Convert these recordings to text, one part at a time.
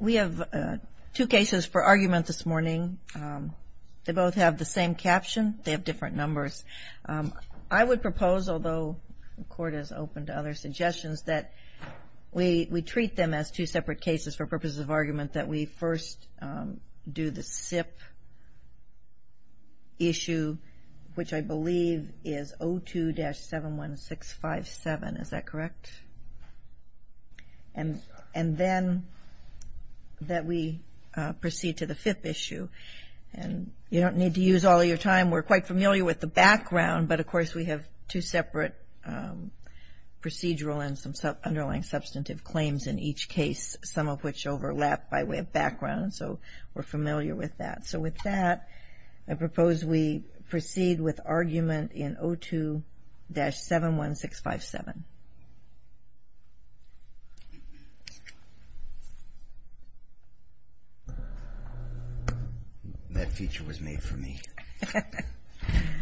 We have two cases for argument this morning. They both have the same caption. They have different numbers. I would propose, although the Court is open to other suggestions, that we treat them as two separate cases for purposes of argument, that we first do the SIP issue, which I believe is 02-71657. Is that correct? And then that we proceed to the fifth issue. And you don't need to use all of your time. We're quite familiar with the background, but of course we have two separate procedural and some underlying substantive claims in each case, some of which overlap by way of background. So we're familiar with that. So with that, I propose we proceed with argument in 02-71657. That feature was made for me.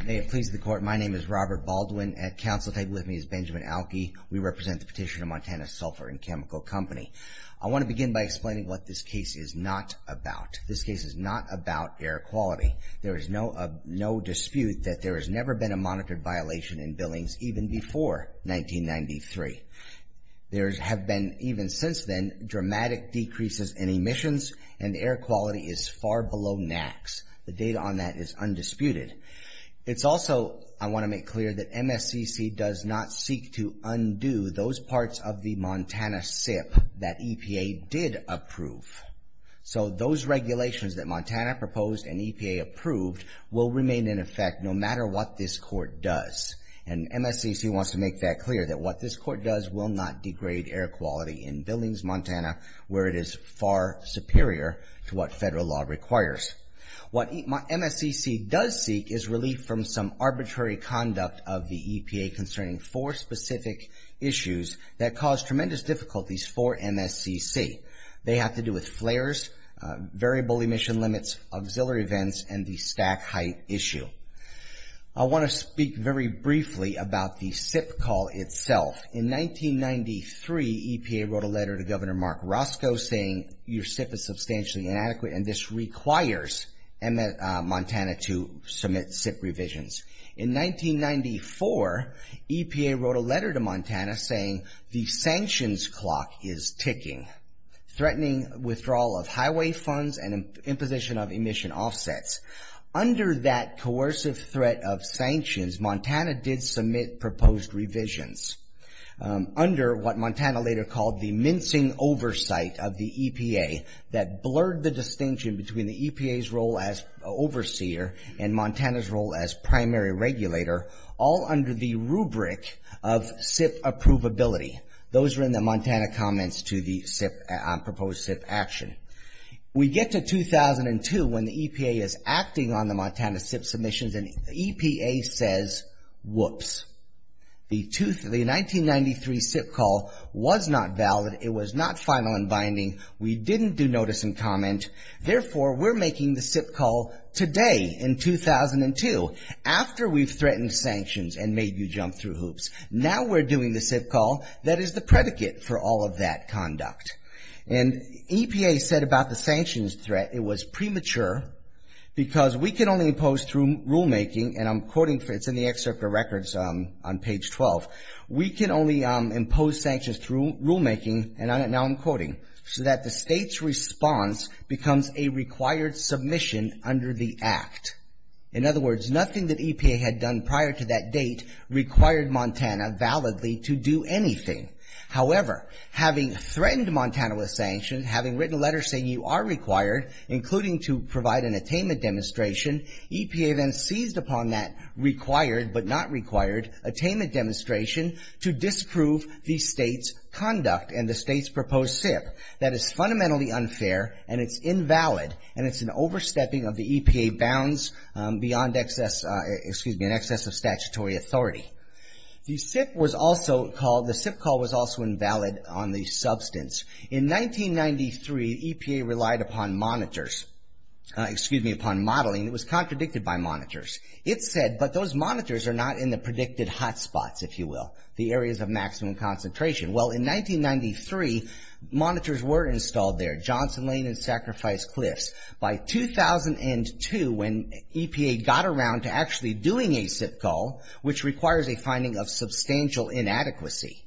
May it please the Court, my name is Robert Baldwin. At counsel table with me is Benjamin Alke. We represent the petitioner, Montana Sulphur & Chemical Company. I want to begin by explaining what this case is not about. This case is not about air quality. There is no dispute that there has never been a monitored violation in Billings even before 1993. There have been, even since then, dramatic decreases in emissions and air quality is far below NAAQS. The data on that is undisputed. It's also, I want to make clear, that MSCC does not seek to undo those parts of the Montana SIP that EPA did approve. So those regulations that Montana proposed and EPA approved will remain in effect no matter what this Court does. And MSCC wants to make that clear, that what this Court does will not degrade air quality in Billings, Montana, where it is far superior to what federal law requires. What MSCC does seek is relief from some arbitrary conduct of the EPA concerning four specific issues that cause tremendous difficulties for MSCC. They have to do with flares, variable emission limits, auxiliary vents, and the stack height issue. I want to speak very briefly about the SIP call itself. In 1993, EPA wrote a letter to Governor Mark Roscoe saying your SIP is substantially inadequate and this requires Montana to submit SIP revisions. In 1994, EPA wrote a letter to Montana saying the sanctions clock is ticking, threatening withdrawal of highway funds and imposition of emission offsets. Under that coercive threat of sanctions, Montana did submit proposed revisions. Under what Montana later called the mincing oversight of the EPA that blurred the distinction between the EPA's role as overseer and Montana's role as primary regulator, all under the rubric of SIP approvability. Those were in the Montana comments to the proposed SIP action. We get to 2002 when the EPA is acting on the Montana SIP submissions and the EPA says, whoops. The 1993 SIP call was not valid. It was not final and binding. We didn't do notice and comment. Therefore, we're making the SIP call today in 2002. After we've threatened sanctions and made you jump through hoops, now we're doing the SIP call that is the predicate for all of that conduct. And EPA said about the sanctions threat, it was premature because we can only impose through rulemaking and I'm quoting, it's in the excerpt of records on page 12. We can only impose sanctions through rulemaking and now I'm quoting, so that the state's response becomes a required submission under the act. In other words, nothing that EPA had done prior to that date required Montana validly to do anything. However, having threatened Montana with sanctions, having written a letter saying you are required, including to provide an attainment demonstration, EPA then seized upon that required but not required attainment demonstration to disprove the state's conduct and the state's proposed SIP. That is fundamentally unfair and it's invalid and it's an overstepping of the EPA bounds beyond excess, excuse me, an excess of statutory authority. The SIP was also called, the SIP call was also invalid on the substance. In 1993, EPA relied upon monitors, excuse me, upon modeling. It was contradicted by monitors. It said, but those monitors are not in the predicted hotspots, if you will, the areas of maximum concentration. Well, in 1993, monitors were installed there. Johnson Lane and Sacrifice Cliffs. By 2002, when EPA got around to actually doing a SIP call, which requires a finding of substantial inadequacy,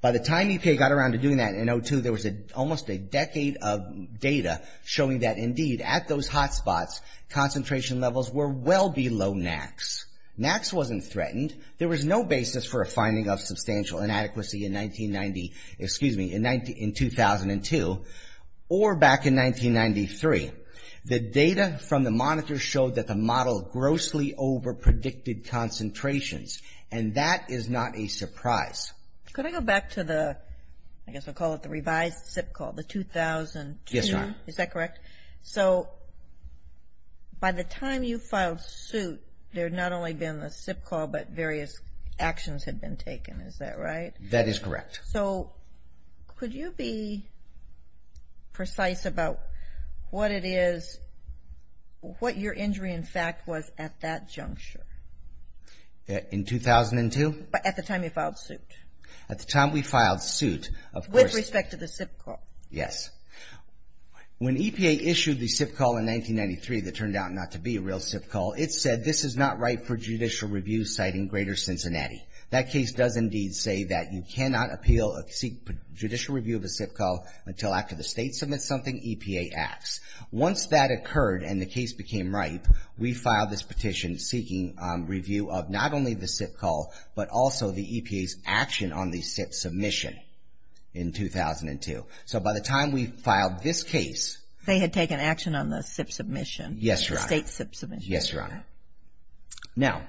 by the time EPA got around to doing that in 2002, there was almost a decade of data showing that, indeed, at those hotspots, concentration levels were well below NAAQS. NAAQS wasn't threatened. There was no basis for a finding of substantial inadequacy in 1990, or back in 1993. The data from the monitors showed that the model grossly overpredicted concentrations, and that is not a surprise. Can I go back to the, I guess I'll call it the revised SIP call, the 2002? Yes, ma'am. Is that correct? So, by the time you filed suit, there had not only been a SIP call, but various actions had been taken. Is that right? That is correct. So, could you be precise about what it is, what your injury, in fact, was at that juncture? In 2002? At the time you filed suit. At the time we filed suit, of course. With respect to the SIP call. Yes. When EPA issued the SIP call in 1993, that turned out not to be a real SIP call, it said, this is not right for judicial review, citing Greater Cincinnati. That case does indeed say that you cannot appeal a judicial review of a SIP call until after the state submits something, EPA acts. Once that occurred and the case became ripe, we filed this petition seeking review of not only the SIP call, but also the EPA's action on the SIP submission in 2002. So, by the time we filed this case. They had taken action on the SIP submission. Yes, Your Honor. The state SIP submission. Yes, Your Honor. Now,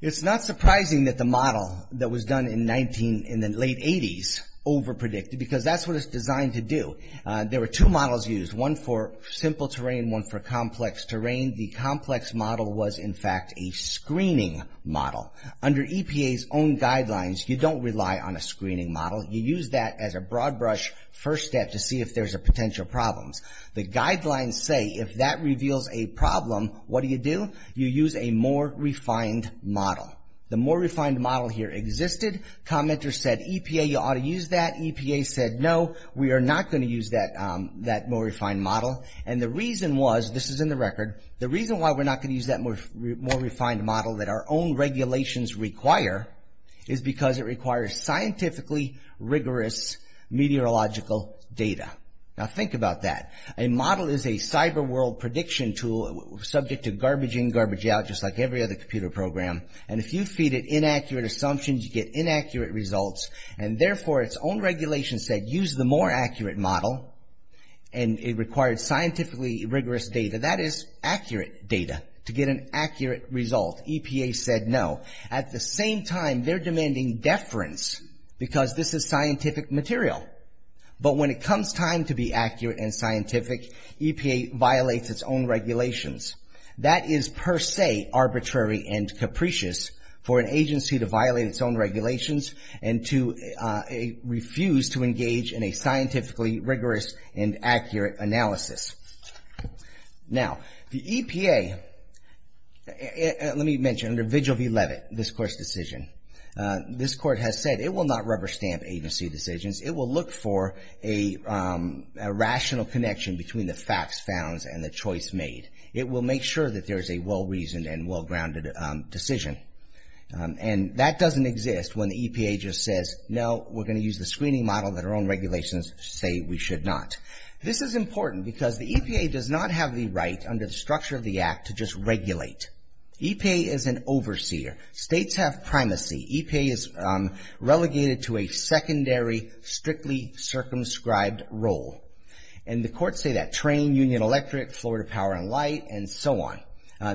it's not surprising that the model that was done in the late 80s overpredicted, because that's what it's designed to do. There were two models used, one for simple terrain, one for complex terrain. The complex model was, in fact, a screening model. Under EPA's own guidelines, you don't rely on a screening model. You use that as a broad brush first step to see if there's potential problems. The guidelines say, if that reveals a problem, what do you do? You use a more refined model. The more refined model here existed. Commenters said, EPA, you ought to use that. EPA said, no, we are not going to use that more refined model. And the reason was, this is in the record, the reason why we're not going to use that more refined model that our own regulations require is because it requires scientifically rigorous meteorological data. Now, think about that. A model is a cyber world prediction tool subject to garbage in, garbage out, just like every other computer program. And if you feed it inaccurate assumptions, you get inaccurate results. And therefore, its own regulations said, use the more accurate model. And it required scientifically rigorous data. That is accurate data to get an accurate result. EPA said, no. At the same time, they're demanding deference because this is scientific material. But when it comes time to be accurate and scientific, EPA violates its own regulations. That is per se arbitrary and capricious for an agency to violate its own regulations and to refuse to engage in a scientifically rigorous and accurate analysis. Now, the EPA, let me mention, under Vigil v. Levitt, this court's decision, this court has said it will not rubber stamp agency decisions. It will look for a rational connection between the facts found and the choice made. It will make sure that there is a well-reasoned and well-grounded decision. And that doesn't exist when the EPA just says, no, we're going to use the screening model that our own regulations say we should not. This is important because the EPA does not have the right under the structure of the Act to just regulate. EPA is an overseer. States have primacy. EPA is relegated to a secondary, strictly circumscribed role. And the courts say that. Train, Union Electric, Florida Power and Light, and so on.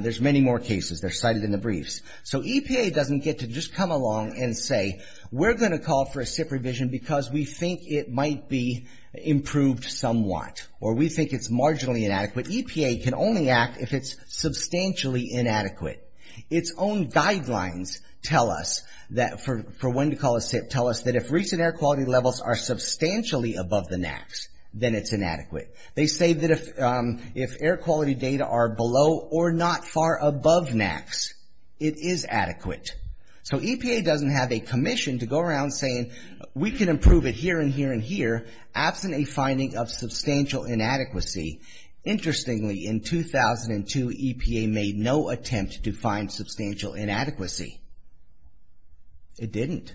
There's many more cases. They're cited in the briefs. So EPA doesn't get to just come along and say, we're going to call for a SIP revision because we think it might be improved somewhat, or we think it's marginally inadequate. EPA can only act if it's substantially inadequate. Its own guidelines tell us that, for when to call a SIP, tell us that if recent air quality levels are substantially above the NAAQS, then it's inadequate. They say that if air quality data are below or not far above NAAQS, it is adequate. So EPA doesn't have a commission to go around saying, we can improve it here and here and here, absent a finding of substantial inadequacy. Interestingly, in 2002, EPA made no attempt to find substantial inadequacy. It didn't.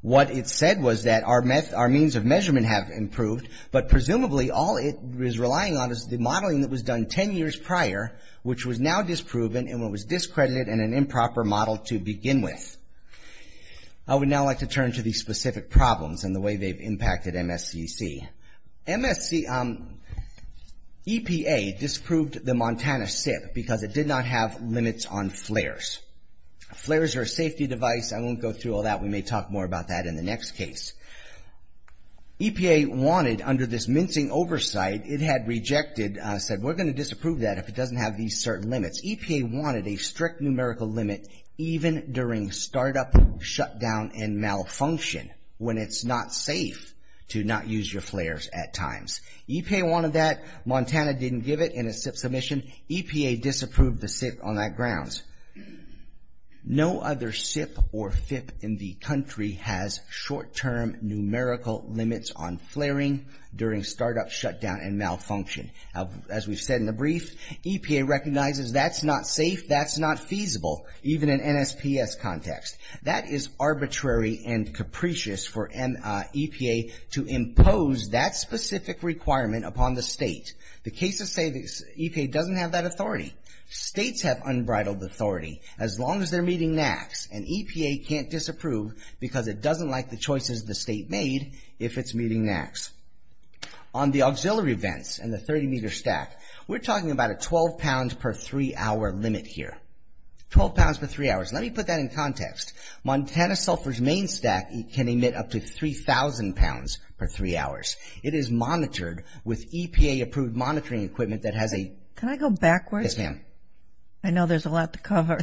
What it said was that our means of measurement have improved, but presumably all it is relying on is the modeling that was done ten years prior, which was now disproven and was discredited and an improper model to begin with. I would now like to turn to the specific problems and the way they've impacted MSCC. MSC... EPA disapproved the Montana SIP because it did not have limits on flares. Flares are a safety device. I won't go through all that. We may talk more about that in the next case. EPA wanted, under this mincing oversight, it had rejected, said, we're going to disapprove that if it doesn't have these certain limits. EPA wanted a strict numerical limit, even during startup, shutdown, and malfunction, when it's not safe to not use your flares at times. EPA wanted that. Montana didn't give it in a SIP submission. EPA disapproved the SIP on that grounds. No other SIP or FIP in the country has short-term numerical limits on flaring during startup, shutdown, and malfunction. As we've said in the brief, EPA recognizes that's not safe, that's not feasible, even in NSPS context. That is arbitrary and capricious for EPA to impose that specific requirement upon the state. The cases say EPA doesn't have that authority. States have unbridled authority, as long as they're meeting NAAQS, and EPA can't disapprove because it doesn't like the choices the state made if it's meeting NAAQS. On the auxiliary vents and the 30-meter stack, we're talking about a 12-pound per three-hour limit here. 12 pounds per three hours. Let me put that in context. Montana Sulphur's main stack can emit up to 3,000 pounds per three hours. It is monitored with EPA-approved monitoring equipment that has a... Can I go backwards? Yes, ma'am. I know there's a lot to cover.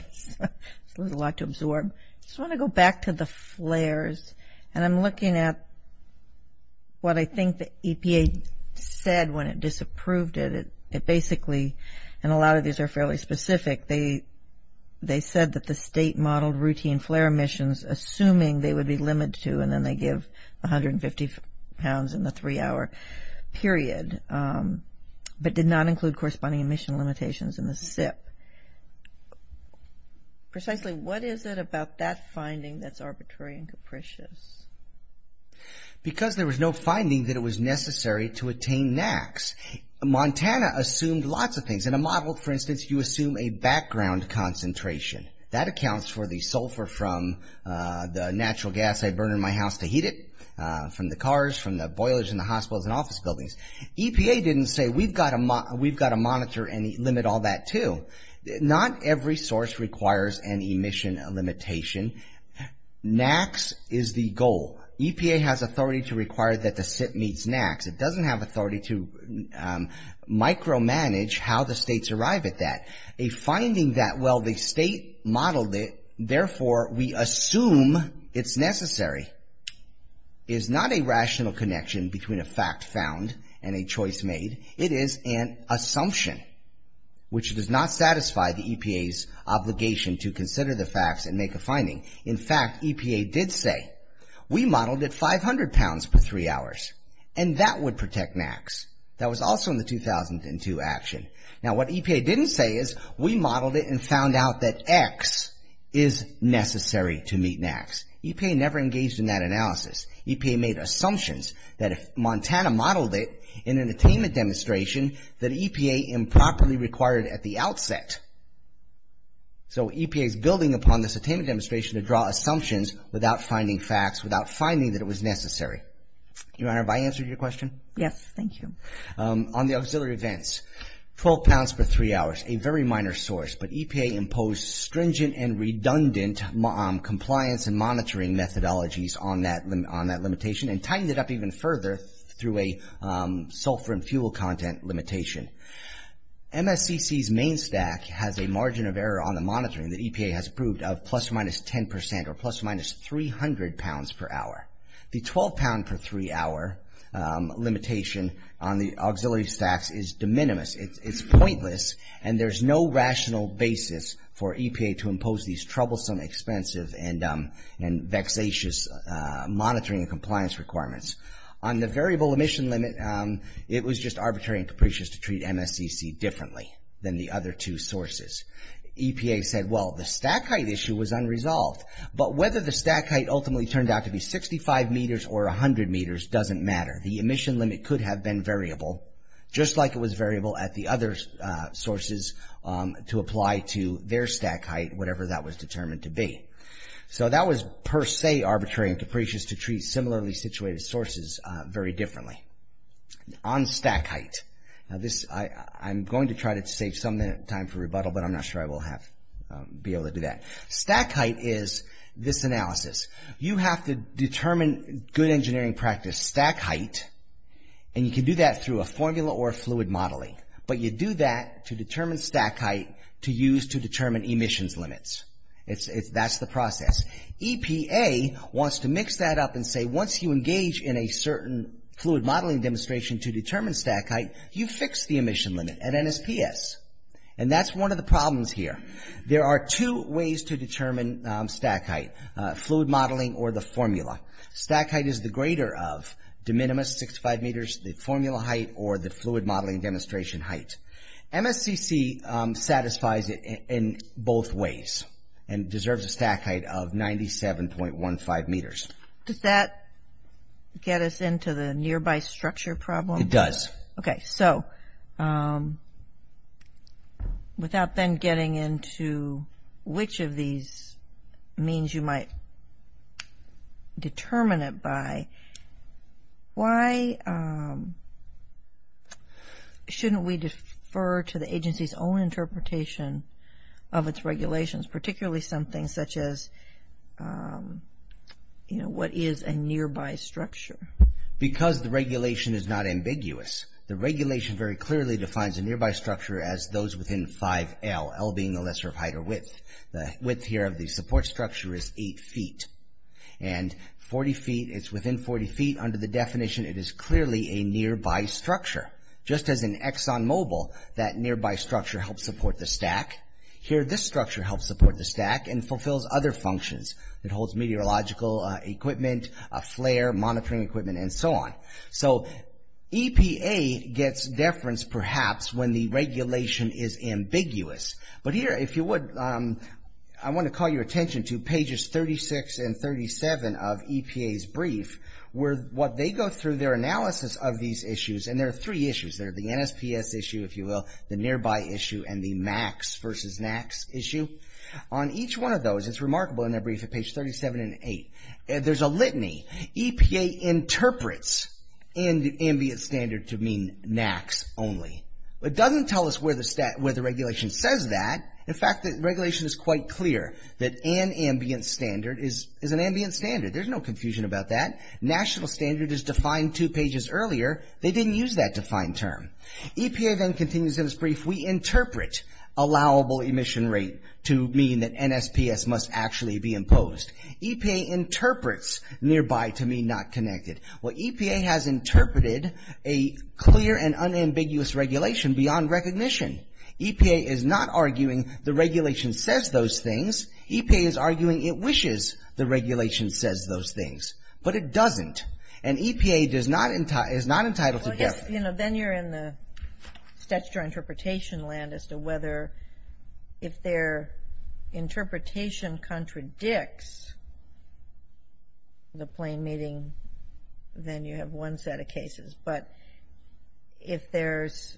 There's a lot to absorb. I just want to go back to the flares, and I'm looking at what I think the EPA said when it disapproved it. It basically, and a lot of these are fairly specific, they said that the state modeled routine flare emissions assuming they would be limited to, and then they give 150 pounds in the three-hour period, but did not include corresponding emission limitations in the SIP. Precisely, what is it about that finding that's arbitrary and capricious? Because there was no finding that it was necessary to attain NAAQS, Montana assumed lots of things. In a model, for instance, you assume a background concentration. That accounts for the sulfur from the natural gas I burn in my house to heat it, from the cars, from the boilers in the hospitals and office buildings. EPA didn't say we've got to monitor and limit all that too. Not every source requires an emission limitation. NAAQS is the goal. EPA has authority to require that the SIP meets NAAQS. It doesn't have authority to micromanage how the states arrive at that. A finding that, well, the state modeled it, therefore we assume it's necessary, is not a rational connection between a fact found and a choice made. It is an assumption, which does not satisfy the EPA's obligation to consider the facts and make a finding. In fact, EPA did say, we modeled it 500 pounds per three hours, and that would protect NAAQS. That was also in the 2002 action. Now what EPA didn't say is, we modeled it and found out that X is necessary to meet NAAQS. EPA never engaged in that analysis. EPA made assumptions that if Montana modeled it in an attainment demonstration, that EPA improperly required it at the outset. So EPA is building upon this attainment demonstration to draw assumptions without finding facts, without finding that it was necessary. Your Honor, have I answered your question? Yes, thank you. On the auxiliary events, 12 pounds per three hours, a very minor source, but EPA imposed stringent and redundant compliance and monitoring methodologies on that limitation and tightened it up even further through a sulfur and fuel content limitation. MSCC's main stack has a margin of error on the monitoring that EPA has approved of plus or minus 10 percent or plus or minus 300 pounds per hour. The 12 pound per three hour limitation on the auxiliary stacks is de minimis. It's pointless, and there's no rational basis for EPA to impose these troublesome, expensive, and vexatious monitoring and compliance requirements. On the variable emission limit, it was just arbitrary and capricious to treat MSCC differently than the other two sources. EPA said, well, the stack height issue was unresolved, but whether the stack height ultimately turned out to be 65 meters or 100 meters doesn't matter. The emission limit could have been variable, just like it was variable at the other sources to apply to their stack height, whatever that was determined to be. So that was per se arbitrary and capricious to treat similarly situated sources very differently. On stack height, I'm going to try to save some time for rebuttal, but I'm not sure I will be able to do that. Stack height is this analysis. You have to determine good engineering practice stack height, and you can do that through a formula or fluid modeling, but you do that to determine stack height to use to determine emissions limits. That's the process. EPA wants to mix that up and say, once you engage in a certain fluid modeling demonstration to determine stack height, you fix the emission limit at NSPS, and that's one of the problems here. There are two ways to determine stack height, fluid modeling or the formula. Stack height is the greater of de minimis 65 meters, the formula height, or the fluid modeling demonstration height. MSCC satisfies it in both ways and deserves a stack height of 97.15 meters. Does that get us into the nearby structure problem? It does. Okay, so without then getting into which of these means you might determine it by, why shouldn't we defer to the agency's own interpretation of its regulations, particularly something such as, you know, what is a nearby structure? Because the regulation is not ambiguous. The regulation very clearly defines a nearby structure as those within 5L, L being the lesser of height or width. The width here of the support structure is 8 feet, and 40 feet, it's within 40 feet. Under the definition, it is clearly a nearby structure. Just as in ExxonMobil, that nearby structure helps support the stack, here this structure helps support the stack and fulfills other functions. It holds meteorological equipment, a flare, monitoring equipment, and so on. So EPA gets deference perhaps when the regulation is ambiguous. But here, if you would, I want to call your attention to pages 36 and 37 of EPA's brief where what they go through their analysis of these issues, and there are three issues there, the NSPS issue, if you will, the nearby issue, and the MACS versus NACS issue. On each one of those, it's remarkable in their brief at page 37 and 8, there's a litany. EPA interprets ambient standard to mean NACS only. It doesn't tell us where the regulation says that. In fact, the regulation is quite clear that an ambient standard is an ambient standard. There's no confusion about that. National standard is defined two pages earlier. They didn't use that defined term. EPA then continues in its brief. We interpret allowable emission rate to mean that NSPS must actually be imposed. EPA interprets nearby to mean not connected. Well, EPA has interpreted a clear and unambiguous regulation beyond recognition. EPA is not arguing the regulation says those things. EPA is arguing it wishes the regulation says those things. But it doesn't, and EPA is not entitled to deference. You know, then you're in the statutory interpretation land as to whether if their interpretation contradicts the plain meeting, then you have one set of cases. But if there's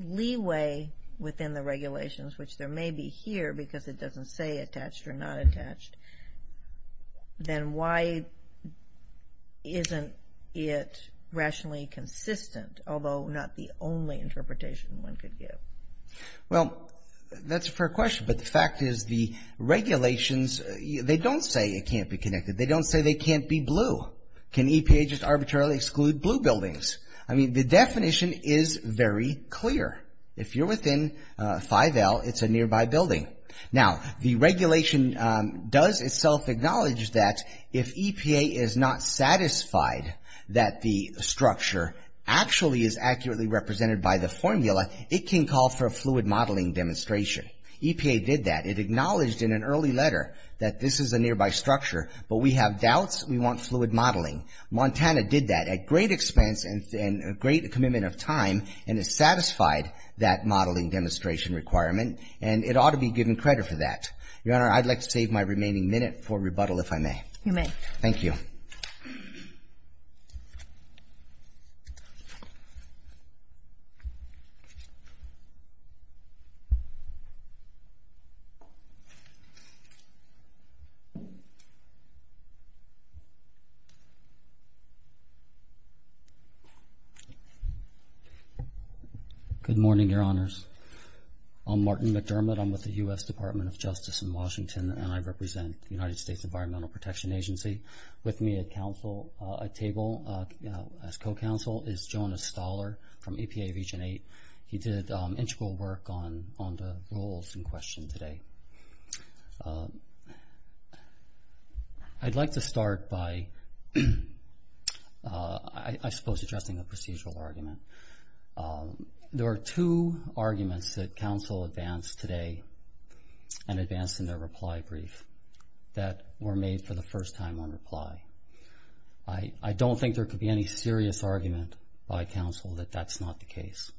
leeway within the regulations, which there may be here, because it doesn't say attached or not attached, then why isn't it rationally consistent, although not the only interpretation one could give? Well, that's a fair question. But the fact is the regulations, they don't say it can't be connected. They don't say they can't be blue. Can EPA just arbitrarily exclude blue buildings? I mean, the definition is very clear. If you're within 5L, it's a nearby building. Now, the regulation does itself acknowledge that if EPA is not satisfied that the structure actually is accurately represented by the formula, it can call for a fluid modeling demonstration. EPA did that. It acknowledged in an early letter that this is a nearby structure, but we have doubts we want fluid modeling. Montana did that at great expense and a great commitment of time, and it satisfied that modeling demonstration requirement, and it ought to be given credit for that. Your Honor, I'd like to save my remaining minute for rebuttal, if I may. You may. Thank you. Good morning, Your Honors. I'm Martin McDermott. I'm with the U.S. Department of Justice in Washington, and I represent the United States Environmental Protection Agency. With me at table as co-counsel is Jonas Stahler from EPA Region 8. He did integral work on the rules in question today. I'd like to start by, I suppose, addressing a procedural argument. There are two arguments that counsel advanced today and advanced in their reply brief that were made for the first time on reply. I don't think there could be any serious argument by counsel that that's not the case.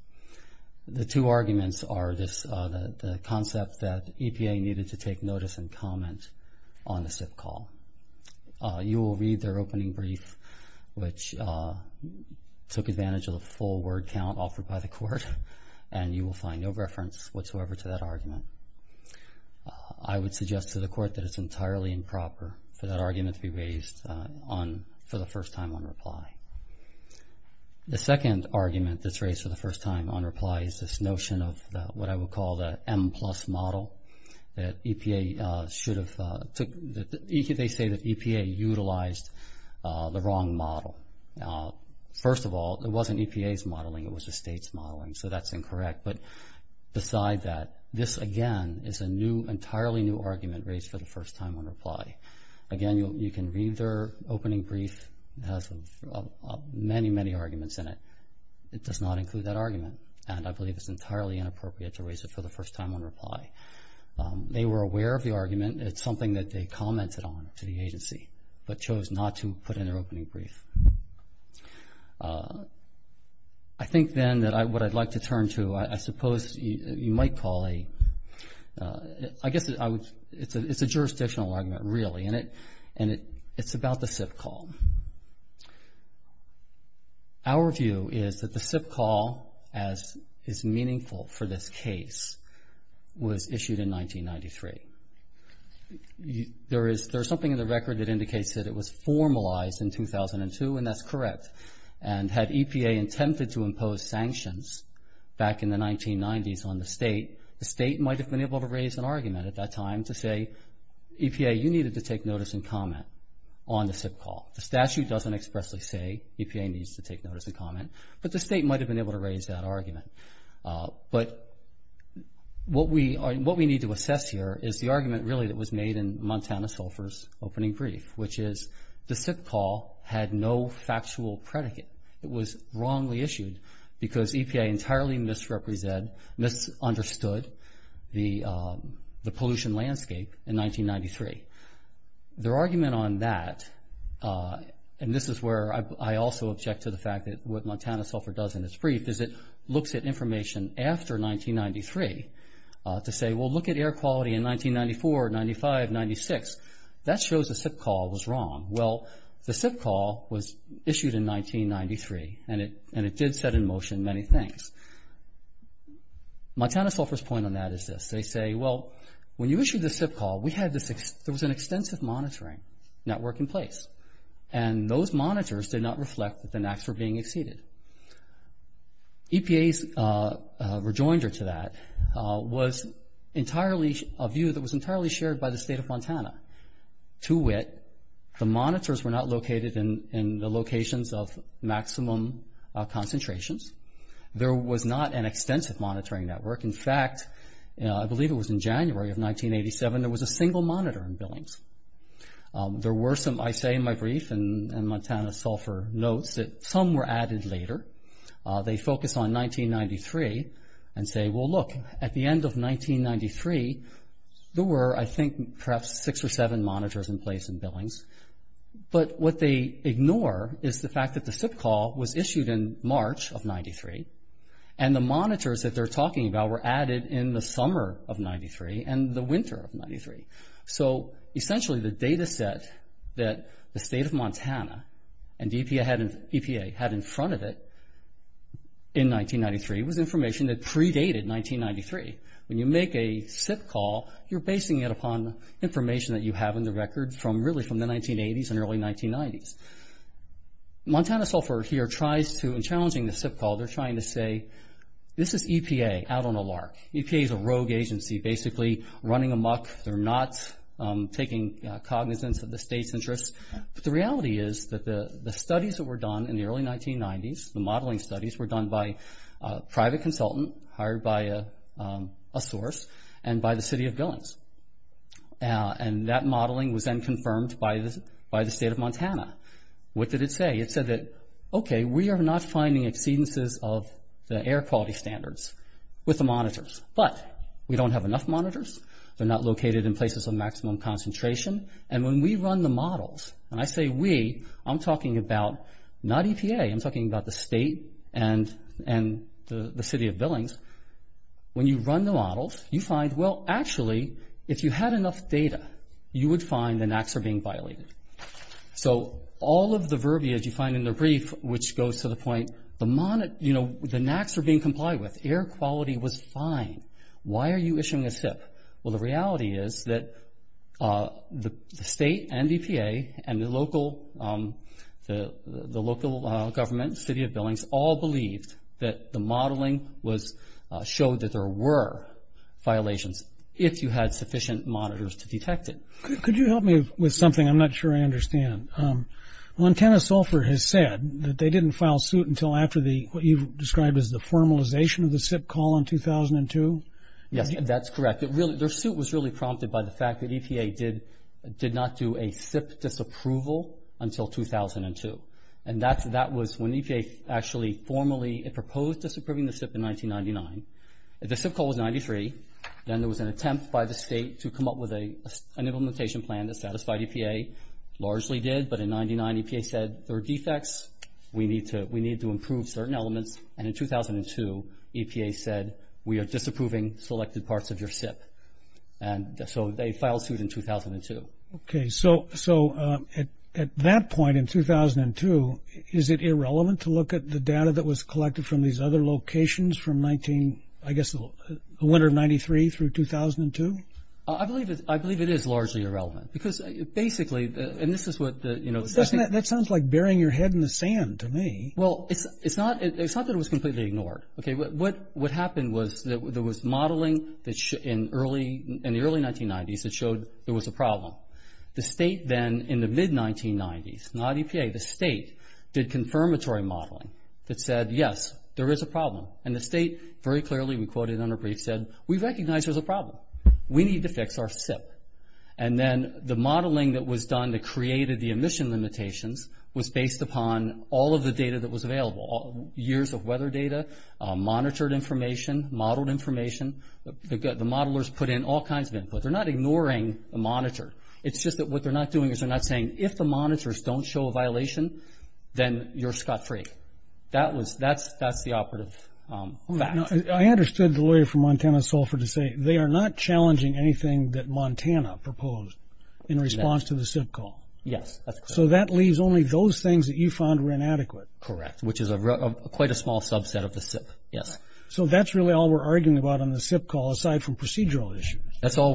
The two arguments are the concept that EPA needed to take notice and comment on the SIP call. You will read their opening brief, which took advantage of the full word count offered by the court, and you will find no reference whatsoever to that argument. I would suggest to the court that it's entirely improper for that argument to be raised for the first time on reply. The second argument that's raised for the first time on reply is this notion of what I would call the M-plus model. They say that EPA utilized the wrong model. First of all, it wasn't EPA's modeling. It was the state's modeling, so that's incorrect. But beside that, this, again, is an entirely new argument raised for the first time on reply. Again, you can read their opening brief. It has many, many arguments in it. It does not include that argument, and I believe it's entirely inappropriate to raise it for the first time on reply. They were aware of the argument. It's something that they commented on to the agency but chose not to put in their opening brief. I think then that what I'd like to turn to, I suppose you might call a, I guess it's a jurisdictional argument, really, and it's about the SIP call. Our view is that the SIP call, as is meaningful for this case, was issued in 1993. There is something in the record that indicates that it was formalized in 2002, and that's correct. And had EPA attempted to impose sanctions back in the 1990s on the state, the state might have been able to raise an argument at that time to say, EPA, you needed to take notice and comment on the SIP call. The statute doesn't expressly say EPA needs to take notice and comment, but the state might have been able to raise that argument. But what we need to assess here is the argument, really, that was made in Montana Sulphur's opening brief, which is the SIP call had no factual predicate. It was wrongly issued because EPA entirely misrepresented, misunderstood the pollution landscape in 1993. Their argument on that, and this is where I also object to the fact that what Montana Sulphur does in its brief is it looks at information after 1993 to say, well, look at air quality in 1994, 95, 96. That shows the SIP call was wrong. Well, the SIP call was issued in 1993, and it did set in motion many things. Montana Sulphur's point on that is this. They say, well, when you issued the SIP call, there was an extensive monitoring network in place, and those monitors did not reflect that the NAAQS were being exceeded. EPA's rejoinder to that was a view that was entirely shared by the state of Montana. To wit, the monitors were not located in the locations of maximum concentrations. There was not an extensive monitoring network. In fact, I believe it was in January of 1987, there was a single monitor in Billings. There were some, I say in my brief, and Montana Sulphur notes that some were added later. They focus on 1993 and say, well, look, at the end of 1993, there were, I think, perhaps six or seven monitors in place in Billings. But what they ignore is the fact that the SIP call was issued in March of 1993, and the monitors that they're talking about were added in the summer of 1993 and the winter of 1993. So, essentially, the data set that the state of Montana and EPA had in front of it in 1993 was information that predated 1993. When you make a SIP call, you're basing it upon information that you have in the record from really from the 1980s and early 1990s. Montana Sulphur here tries to, in challenging the SIP call, they're trying to say, this is EPA out on a lark. EPA's a rogue agency, basically running amok. They're not taking cognizance of the state's interests. But the reality is that the studies that were done in the early 1990s, the modeling studies were done by a private consultant hired by a source and by the city of Billings. And that modeling was then confirmed by the state of Montana. What did it say? It said that, okay, we are not finding exceedances of the air quality standards with the monitors. But we don't have enough monitors. They're not located in places of maximum concentration. And when we run the models, and I say we, I'm talking about not EPA. I'm talking about the state and the city of Billings. When you run the models, you find, well, actually, if you had enough data, you would find the NACs are being violated. So all of the verbiage you find in the brief, which goes to the point, the NACs are being complied with. Air quality was fine. Why are you issuing a SIP? Well, the reality is that the state and EPA and the local government, city of Billings, all believed that the modeling showed that there were violations if you had sufficient monitors to detect it. Could you help me with something? I'm not sure I understand. Montana Sulphur has said that they didn't file suit until after what you've described as the formalization of the SIP call in 2002. Yes, that's correct. Their suit was really prompted by the fact that EPA did not do a SIP disapproval until 2002. And that was when EPA actually formally proposed disapproving the SIP in 1999. The SIP call was in 93. Then there was an attempt by the state to come up with an implementation plan that satisfied EPA. Largely did, but in 99, EPA said there are defects. We need to improve certain elements. And in 2002, EPA said, we are disapproving selected parts of your SIP. And so they filed suit in 2002. Okay. So at that point in 2002, is it irrelevant to look at the data that was collected from these other locations from, I guess, the winter of 93 through 2002? I believe it is largely irrelevant. Because basically, and this is what the- That sounds like burying your head in the sand to me. Well, it's not that it was completely ignored. What happened was there was modeling in the early 1990s that showed there was a problem. The state then, in the mid-1990s, not EPA, the state did confirmatory modeling that said, yes, there is a problem. And the state very clearly, we quoted in our brief, said, we recognize there's a problem. We need to fix our SIP. And then the modeling that was done that created the emission limitations was based upon all of the data that was available, years of weather data, monitored information, modeled information. The modelers put in all kinds of input. They're not ignoring the monitor. It's just that what they're not doing is they're not saying, if the monitors don't show a violation, then you're scot-free. That's the operative fact. I understood the lawyer from Montana, Sulphur, to say they are not challenging anything that Montana proposed in response to the SIP call. Yes, that's correct. So that leaves only those things that you found were inadequate. Correct, which is quite a small subset of the SIP, yes. So that's really all we're arguing about on the SIP call, aside from procedural issues. That's all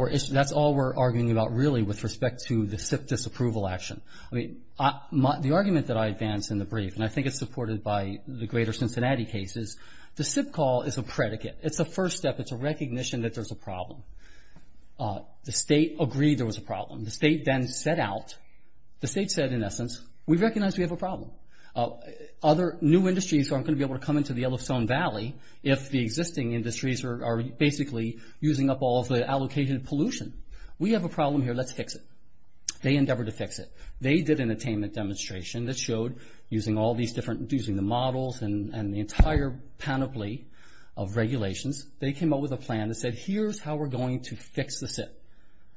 we're arguing about, really, with respect to the SIP disapproval action. The argument that I advance in the brief, and I think it's supported by the greater Cincinnati cases, the SIP call is a predicate. It's a first step. It's a recognition that there's a problem. The state agreed there was a problem. The state then set out. The state said, in essence, we recognize we have a problem. Other new industries aren't going to be able to come into the Yellowstone Valley if the existing industries are basically using up all of the allocated pollution. We have a problem here. Let's fix it. They endeavored to fix it. They did an attainment demonstration that showed, using the models and the entire panoply of regulations, they came up with a plan that said, here's how we're going to fix the SIP.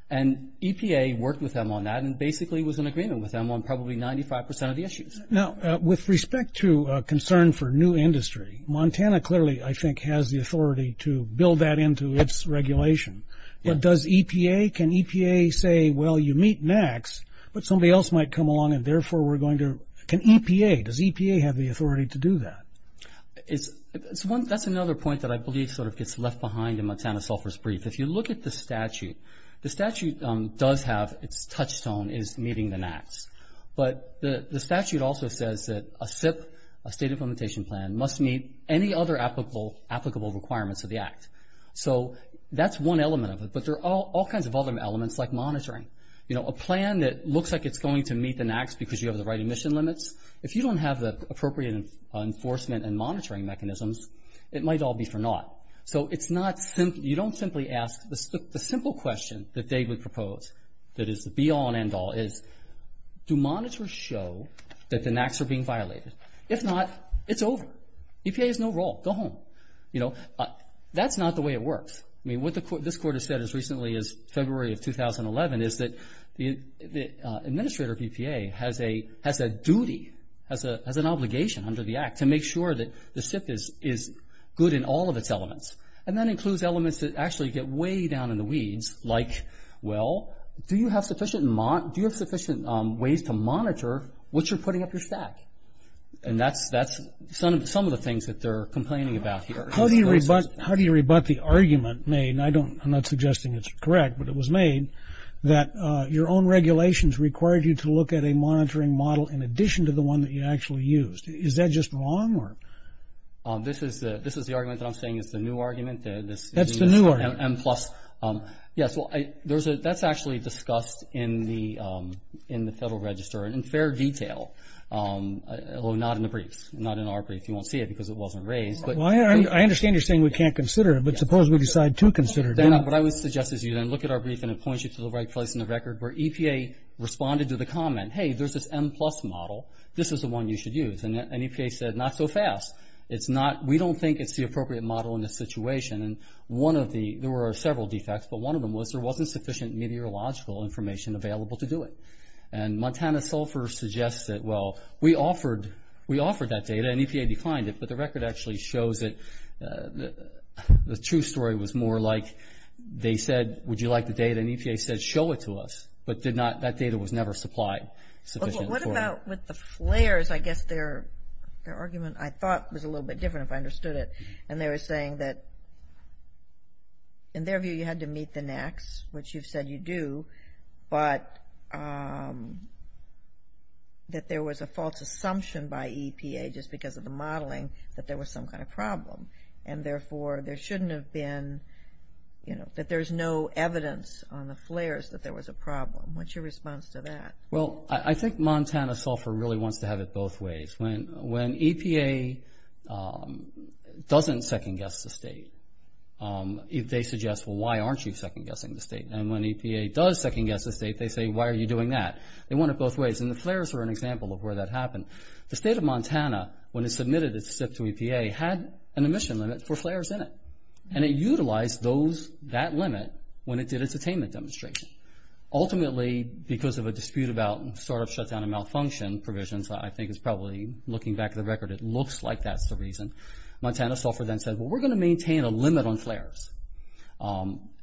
And EPA worked with them on that and basically was in agreement with them on probably 95% of the issues. Now, with respect to concern for new industry, Montana clearly, I think, has the authority to build that into its regulation. But does EPA, can EPA say, well, you meet NAAQS, but somebody else might come along and therefore we're going to, can EPA, does EPA have the authority to do that? That's another point that I believe sort of gets left behind in Montana Sulphur's brief. If you look at the statute, the statute does have its touchstone is meeting the NAAQS. But the statute also says that a SIP, a state implementation plan, must meet any other applicable requirements of the act. So that's one element of it. But there are all kinds of other elements, like monitoring. You know, a plan that looks like it's going to meet the NAAQS because you have the right emission limits, if you don't have the appropriate enforcement and monitoring mechanisms, it might all be for naught. So it's not, you don't simply ask, the simple question that they would propose that is the be all and end all is, do monitors show that the NAAQS are being violated? If not, it's over. EPA has no role. Go home. You know, that's not the way it works. I mean, what this court has said as recently as February of 2011 is that the administrator of EPA has a duty, has an obligation under the act to make sure that the SIP is good in all of its elements. And that includes elements that actually get way down in the weeds, like, well, do you have sufficient ways to monitor what you're putting up your stack? And that's some of the things that they're complaining about here. How do you rebut the argument made, and I'm not suggesting it's correct, but it was made that your own regulations required you to look at a monitoring model in addition to the one that you actually used? Is that just wrong? This is the argument that I'm saying is the new argument. That's the new argument. M-plus. Yes, well, that's actually discussed in the Federal Register in fair detail, although not in the briefs, not in our brief. You won't see it because it wasn't raised. I understand you're saying we can't consider it, but suppose we decide to consider it. What I would suggest is you then look at our brief, and it points you to the right place in the record where EPA responded to the comment, hey, there's this M-plus model. This is the one you should use. And EPA said, not so fast. We don't think it's the appropriate model in this situation. And one of the – there were several defects, but one of them was there wasn't sufficient meteorological information available to do it. And Montana Sulphur suggests that, well, we offered that data, and EPA declined it, but the record actually shows that the true story was more like they said, would you like the data, and EPA said, show it to us, but that data was never supplied sufficiently. What about with the flares? I guess their argument, I thought, was a little bit different if I understood it, and they were saying that, in their view, you had to meet the NACs, which you've said you do, but that there was a false assumption by EPA just because of the modeling that there was some kind of problem, and therefore, there shouldn't have been – that there's no evidence on the flares that there was a problem. What's your response to that? Well, I think Montana Sulphur really wants to have it both ways. When EPA doesn't second-guess the state, they suggest, well, why aren't you second-guessing the state? And when EPA does second-guess the state, they say, why are you doing that? They want it both ways, and the flares were an example of where that happened. The state of Montana, when it submitted its SIPP to EPA, had an emission limit for flares in it, and it utilized that limit when it did its attainment demonstration. Ultimately, because of a dispute about sort of shutdown and malfunction provisions, I think it's probably, looking back at the record, it looks like that's the reason. Montana Sulphur then said, well, we're going to maintain a limit on flares,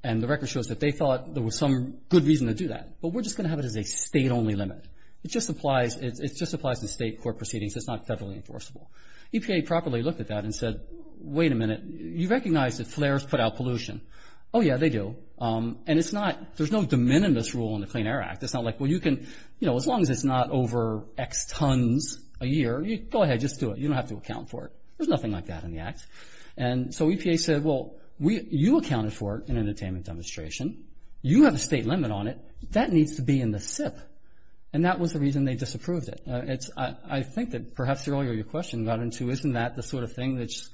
and the record shows that they thought there was some good reason to do that, but we're just going to have it as a state-only limit. It just applies to state court proceedings. It's not federally enforceable. EPA properly looked at that and said, wait a minute. You recognize that flares put out pollution. Oh, yeah, they do. And it's not, there's no de minimis rule in the Clean Air Act. It's not like, well, you can, you know, as long as it's not over X tons a year, go ahead, just do it. You don't have to account for it. There's nothing like that in the Act. And so EPA said, well, you accounted for it in an attainment demonstration. You have a state limit on it. That needs to be in the SIPP, and that was the reason they disapproved it. I think that perhaps earlier your question got into isn't that the sort of thing that's,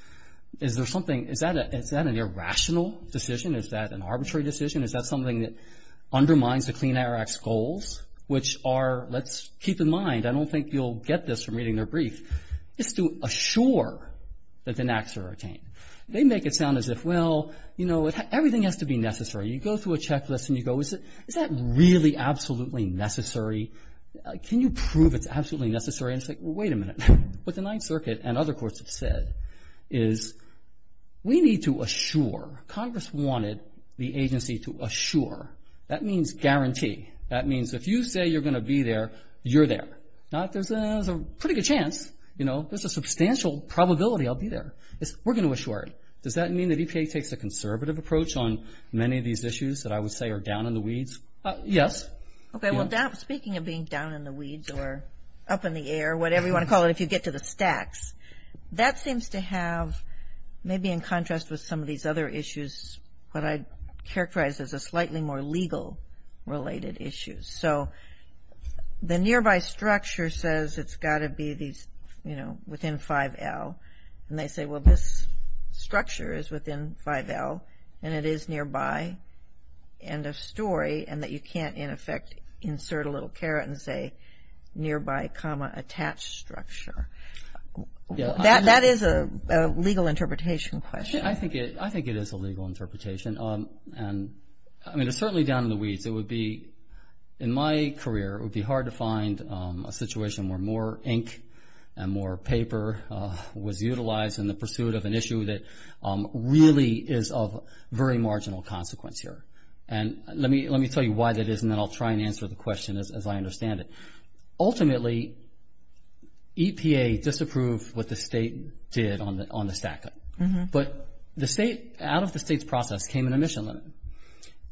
is there something, is that an irrational decision? Is that an arbitrary decision? Is that something that undermines the Clean Air Act's goals, which are, let's keep in mind, I don't think you'll get this from reading their brief, is to assure that the enacts are attained. They make it sound as if, well, you know, everything has to be necessary. You go through a checklist and you go, is that really absolutely necessary? Can you prove it's absolutely necessary? And it's like, well, wait a minute. What the Ninth Circuit and other courts have said is we need to assure. Congress wanted the agency to assure. That means guarantee. That means if you say you're going to be there, you're there. Now, if there's a pretty good chance, you know, there's a substantial probability I'll be there. We're going to assure it. Does that mean that EPA takes a conservative approach on many of these issues that I would say are down in the weeds? Yes. Okay. Well, speaking of being down in the weeds or up in the air, whatever you want to call it, if you get to the stacks, that seems to have, maybe in contrast with some of these other issues, what I'd characterize as a slightly more legal-related issue. So the nearby structure says it's got to be these, you know, within 5L. And they say, well, this structure is within 5L, and it is nearby, end of story, and that you can't, in effect, insert a little caret and say nearby, attached structure. That is a legal interpretation question. I think it is a legal interpretation. And, I mean, it's certainly down in the weeds. It would be, in my career, it would be hard to find a situation where more ink and more paper was utilized in the pursuit of an issue that really is of very marginal consequence here. And let me tell you why that is, and then I'll try and answer the question as I understand it. Ultimately, EPA disapproved what the state did on the stack-up. But the state, out of the state's process, came in a mission limit.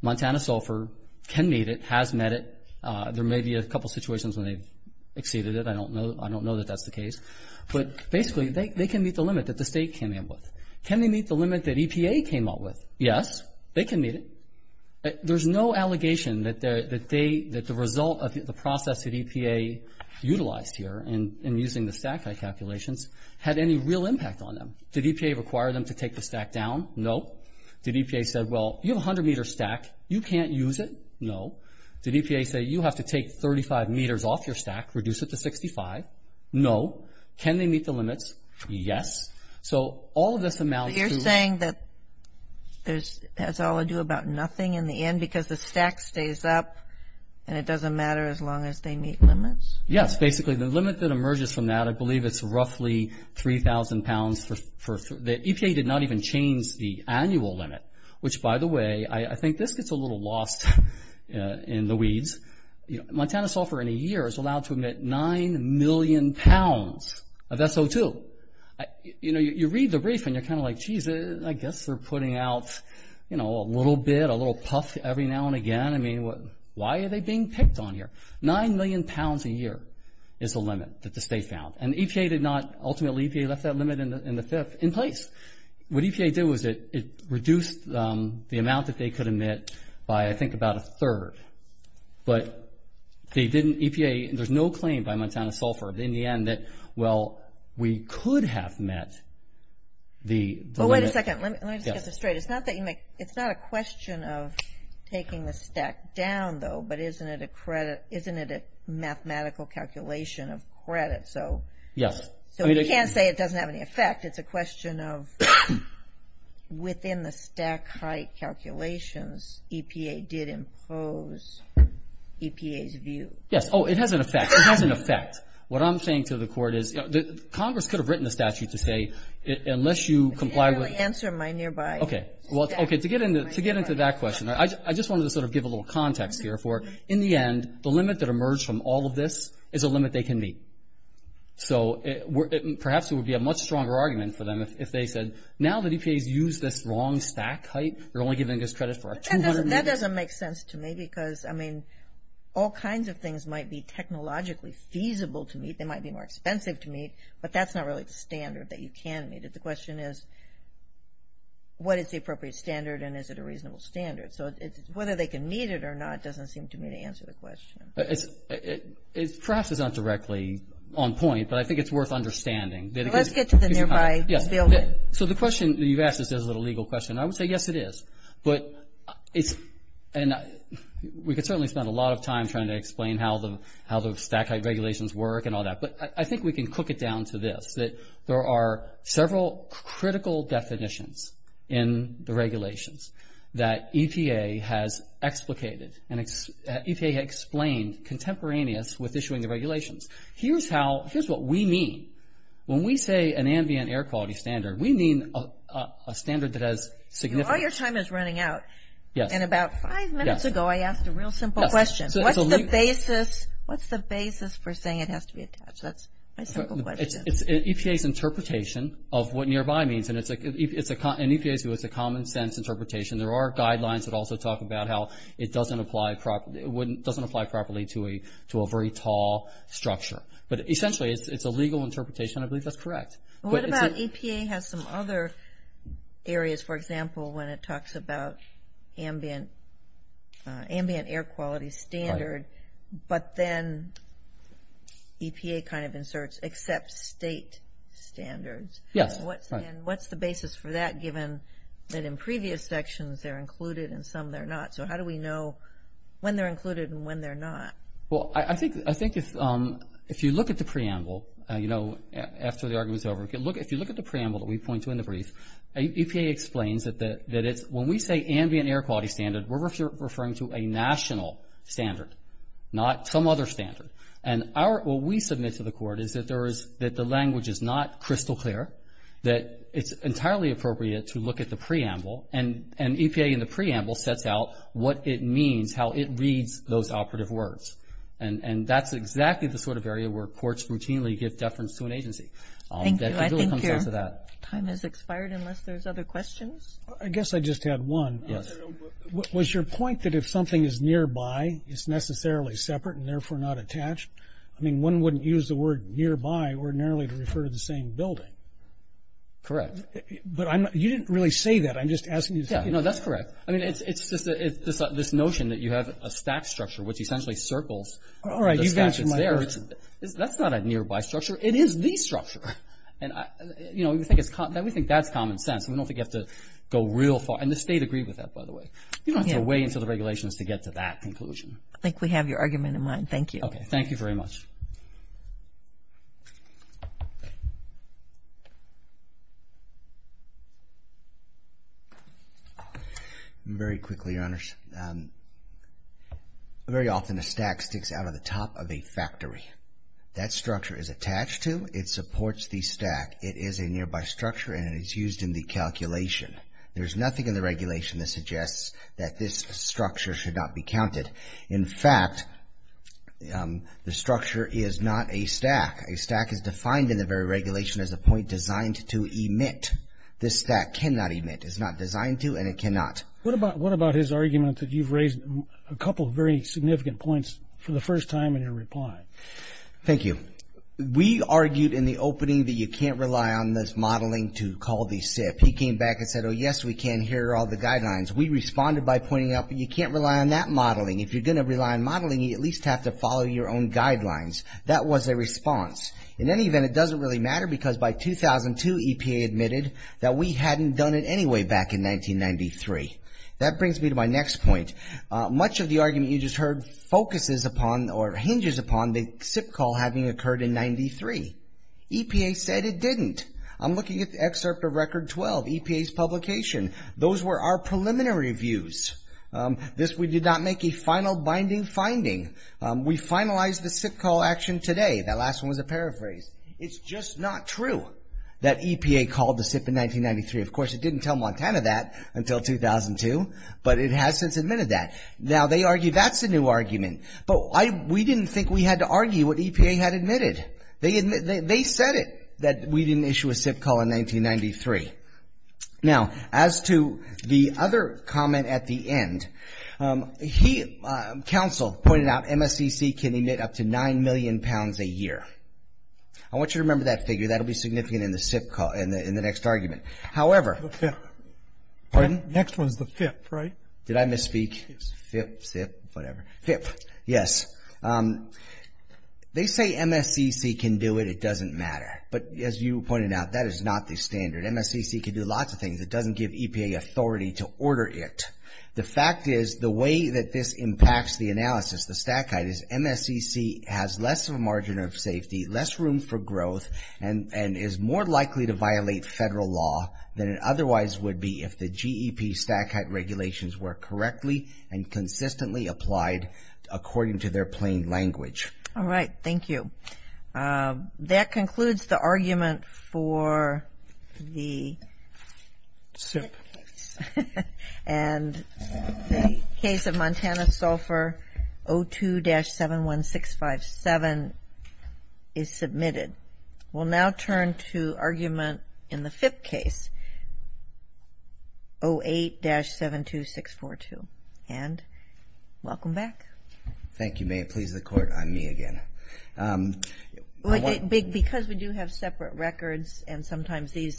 Montana Sulphur can meet it, has met it. There may be a couple situations when they've exceeded it. I don't know that that's the case. But basically, they can meet the limit that the state came in with. Can they meet the limit that EPA came up with? Yes, they can meet it. There's no allegation that the result of the process that EPA utilized here in using the stack-up calculations had any real impact on them. Did EPA require them to take the stack down? No. Did EPA say, well, you have a 100-meter stack, you can't use it? No. Did EPA say, you have to take 35 meters off your stack, reduce it to 65? No. Can they meet the limits? Yes. You're saying that it has all to do about nothing in the end because the stack stays up and it doesn't matter as long as they meet limits? Yes. Basically, the limit that emerges from that, I believe it's roughly 3,000 pounds. EPA did not even change the annual limit, which, by the way, I think this gets a little lost in the weeds. Montana Sulphur, in a year, is allowed to emit 9 million pounds of SO2. You read the brief and you're kind of like, geez, I guess they're putting out a little bit, a little puff every now and again. I mean, why are they being picked on here? Nine million pounds a year is the limit that the state found. Ultimately, EPA left that limit in the fifth in place. What EPA did was it reduced the amount that they could emit by, I think, about a third. But EPA, there's no claim by Montana Sulphur in the end that, well, we could have met the limit. Wait a second. Let me just get this straight. It's not a question of taking the stack down, though, but isn't it a mathematical calculation of credit? Yes. You can't say it doesn't have any effect. In fact, it's a question of within the stack height calculations, EPA did impose EPA's view. Yes. Oh, it has an effect. It has an effect. What I'm saying to the court is Congress could have written a statute to say, unless you comply with ‑‑ I didn't really answer my nearby stack. Okay. To get into that question, I just wanted to sort of give a little context here for, in the end, the limit that emerged from all of this is a limit they can meet. So perhaps it would be a much stronger argument for them if they said, now that EPA's used this wrong stack height, they're only giving us credit for our 200 meters. That doesn't make sense to me because, I mean, all kinds of things might be technologically feasible to meet. They might be more expensive to meet, but that's not really the standard that you can meet. The question is, what is the appropriate standard and is it a reasonable standard? So whether they can meet it or not doesn't seem to me to answer the question. Perhaps it's not directly on point, but I think it's worth understanding. Let's get to the nearby building. So the question that you've asked is a legal question. I would say, yes, it is. But we could certainly spend a lot of time trying to explain how the stack height regulations work and all that. But I think we can cook it down to this, that there are several critical definitions in the regulations that EPA has explicated and EPA explained contemporaneous with issuing the regulations. Here's what we mean. When we say an ambient air quality standard, we mean a standard that has significance. All your time is running out, and about five minutes ago I asked a real simple question. What's the basis for saying it has to be attached? That's my simple question. It's EPA's interpretation of what nearby means, and it's a common sense interpretation. There are guidelines that also talk about how it doesn't apply properly to a very tall structure. But essentially it's a legal interpretation, and I believe that's correct. What about EPA has some other areas, for example, when it talks about ambient air quality standard, but then EPA kind of inserts except state standards. Yes. What's the basis for that given that in previous sections they're included and some they're not? So how do we know when they're included and when they're not? Well, I think if you look at the preamble, you know, after the argument's over, if you look at the preamble that we point to in the brief, EPA explains that when we say ambient air quality standard, we're referring to a national standard, not some other standard. And what we submit to the court is that the language is not crystal clear, that it's entirely appropriate to look at the preamble, and EPA in the preamble sets out what it means, how it reads those operative words. And that's exactly the sort of area where courts routinely give deference to an agency. Thank you. I think your time has expired unless there's other questions. I guess I just had one. Yes. Was your point that if something is nearby, it's necessarily separate and therefore not attached? I mean, one wouldn't use the word nearby ordinarily to refer to the same building. Correct. But you didn't really say that. I'm just asking you to tell me. No, that's correct. I mean, it's just this notion that you have a stack structure which essentially circles the stack that's there. All right, you've answered my question. That's not a nearby structure. It is the structure. And, you know, we think that's common sense. We don't think you have to go real far. And the state agreed with that, by the way. You don't have to weigh into the regulations to get to that conclusion. I think we have your argument in mind. Thank you. Okay. Thank you very much. Very quickly, Your Honors. Very often a stack sticks out of the top of a factory. That structure is attached to. It supports the stack. It is a nearby structure, and it is used in the calculation. There's nothing in the regulation that suggests that this structure should not be counted. In fact, the structure is not a stack. A stack is defined in the very regulation as a point designed to emit. This stack cannot emit. It's not designed to, and it cannot. What about his argument that you've raised a couple of very significant points for the first time in your reply? Thank you. We argued in the opening that you can't rely on this modeling to call the SIP. He came back and said, oh, yes, we can. Here are all the guidelines. We responded by pointing out that you can't rely on that modeling. If you're going to rely on modeling, you at least have to follow your own guidelines. That was a response. In any event, it doesn't really matter because by 2002, EPA admitted that we hadn't done it anyway back in 1993. That brings me to my next point. Much of the argument you just heard focuses upon or hinges upon the SIP call having occurred in 1993. EPA said it didn't. I'm looking at the excerpt of Record 12, EPA's publication. Those were our preliminary views. This we did not make a final binding finding. We finalized the SIP call action today. That last one was a paraphrase. It's just not true that EPA called the SIP in 1993. Of course, it didn't tell Montana that until 2002, but it has since admitted that. Now, they argue that's a new argument. But we didn't think we had to argue what EPA had admitted. They said it, that we didn't issue a SIP call in 1993. Now, as to the other comment at the end, Council pointed out MSCC can emit up to 9 million pounds a year. I want you to remember that figure. That will be significant in the SIP call, in the next argument. However. The fifth. Pardon? Next one is the fifth, right? Did I misspeak? Yes. Fifth, SIP, whatever. Fifth, yes. They say MSCC can do it. It doesn't matter. But as you pointed out, that is not the standard. MSCC can do lots of things. It doesn't give EPA authority to order it. The fact is the way that this impacts the analysis, the stat guide, is MSCC has less of a margin of safety, less room for growth, and is more likely to violate federal law than it otherwise would be if the GEP stat guide regulations were correctly and consistently applied according to their plain language. All right. Thank you. That concludes the argument for the SIP. And the case of Montana Sulphur, 02-71657 is submitted. We'll now turn to argument in the fifth case, 08-72642. And welcome back. Thank you, ma'am. Please the court on me again. Because we do have separate records and sometimes these.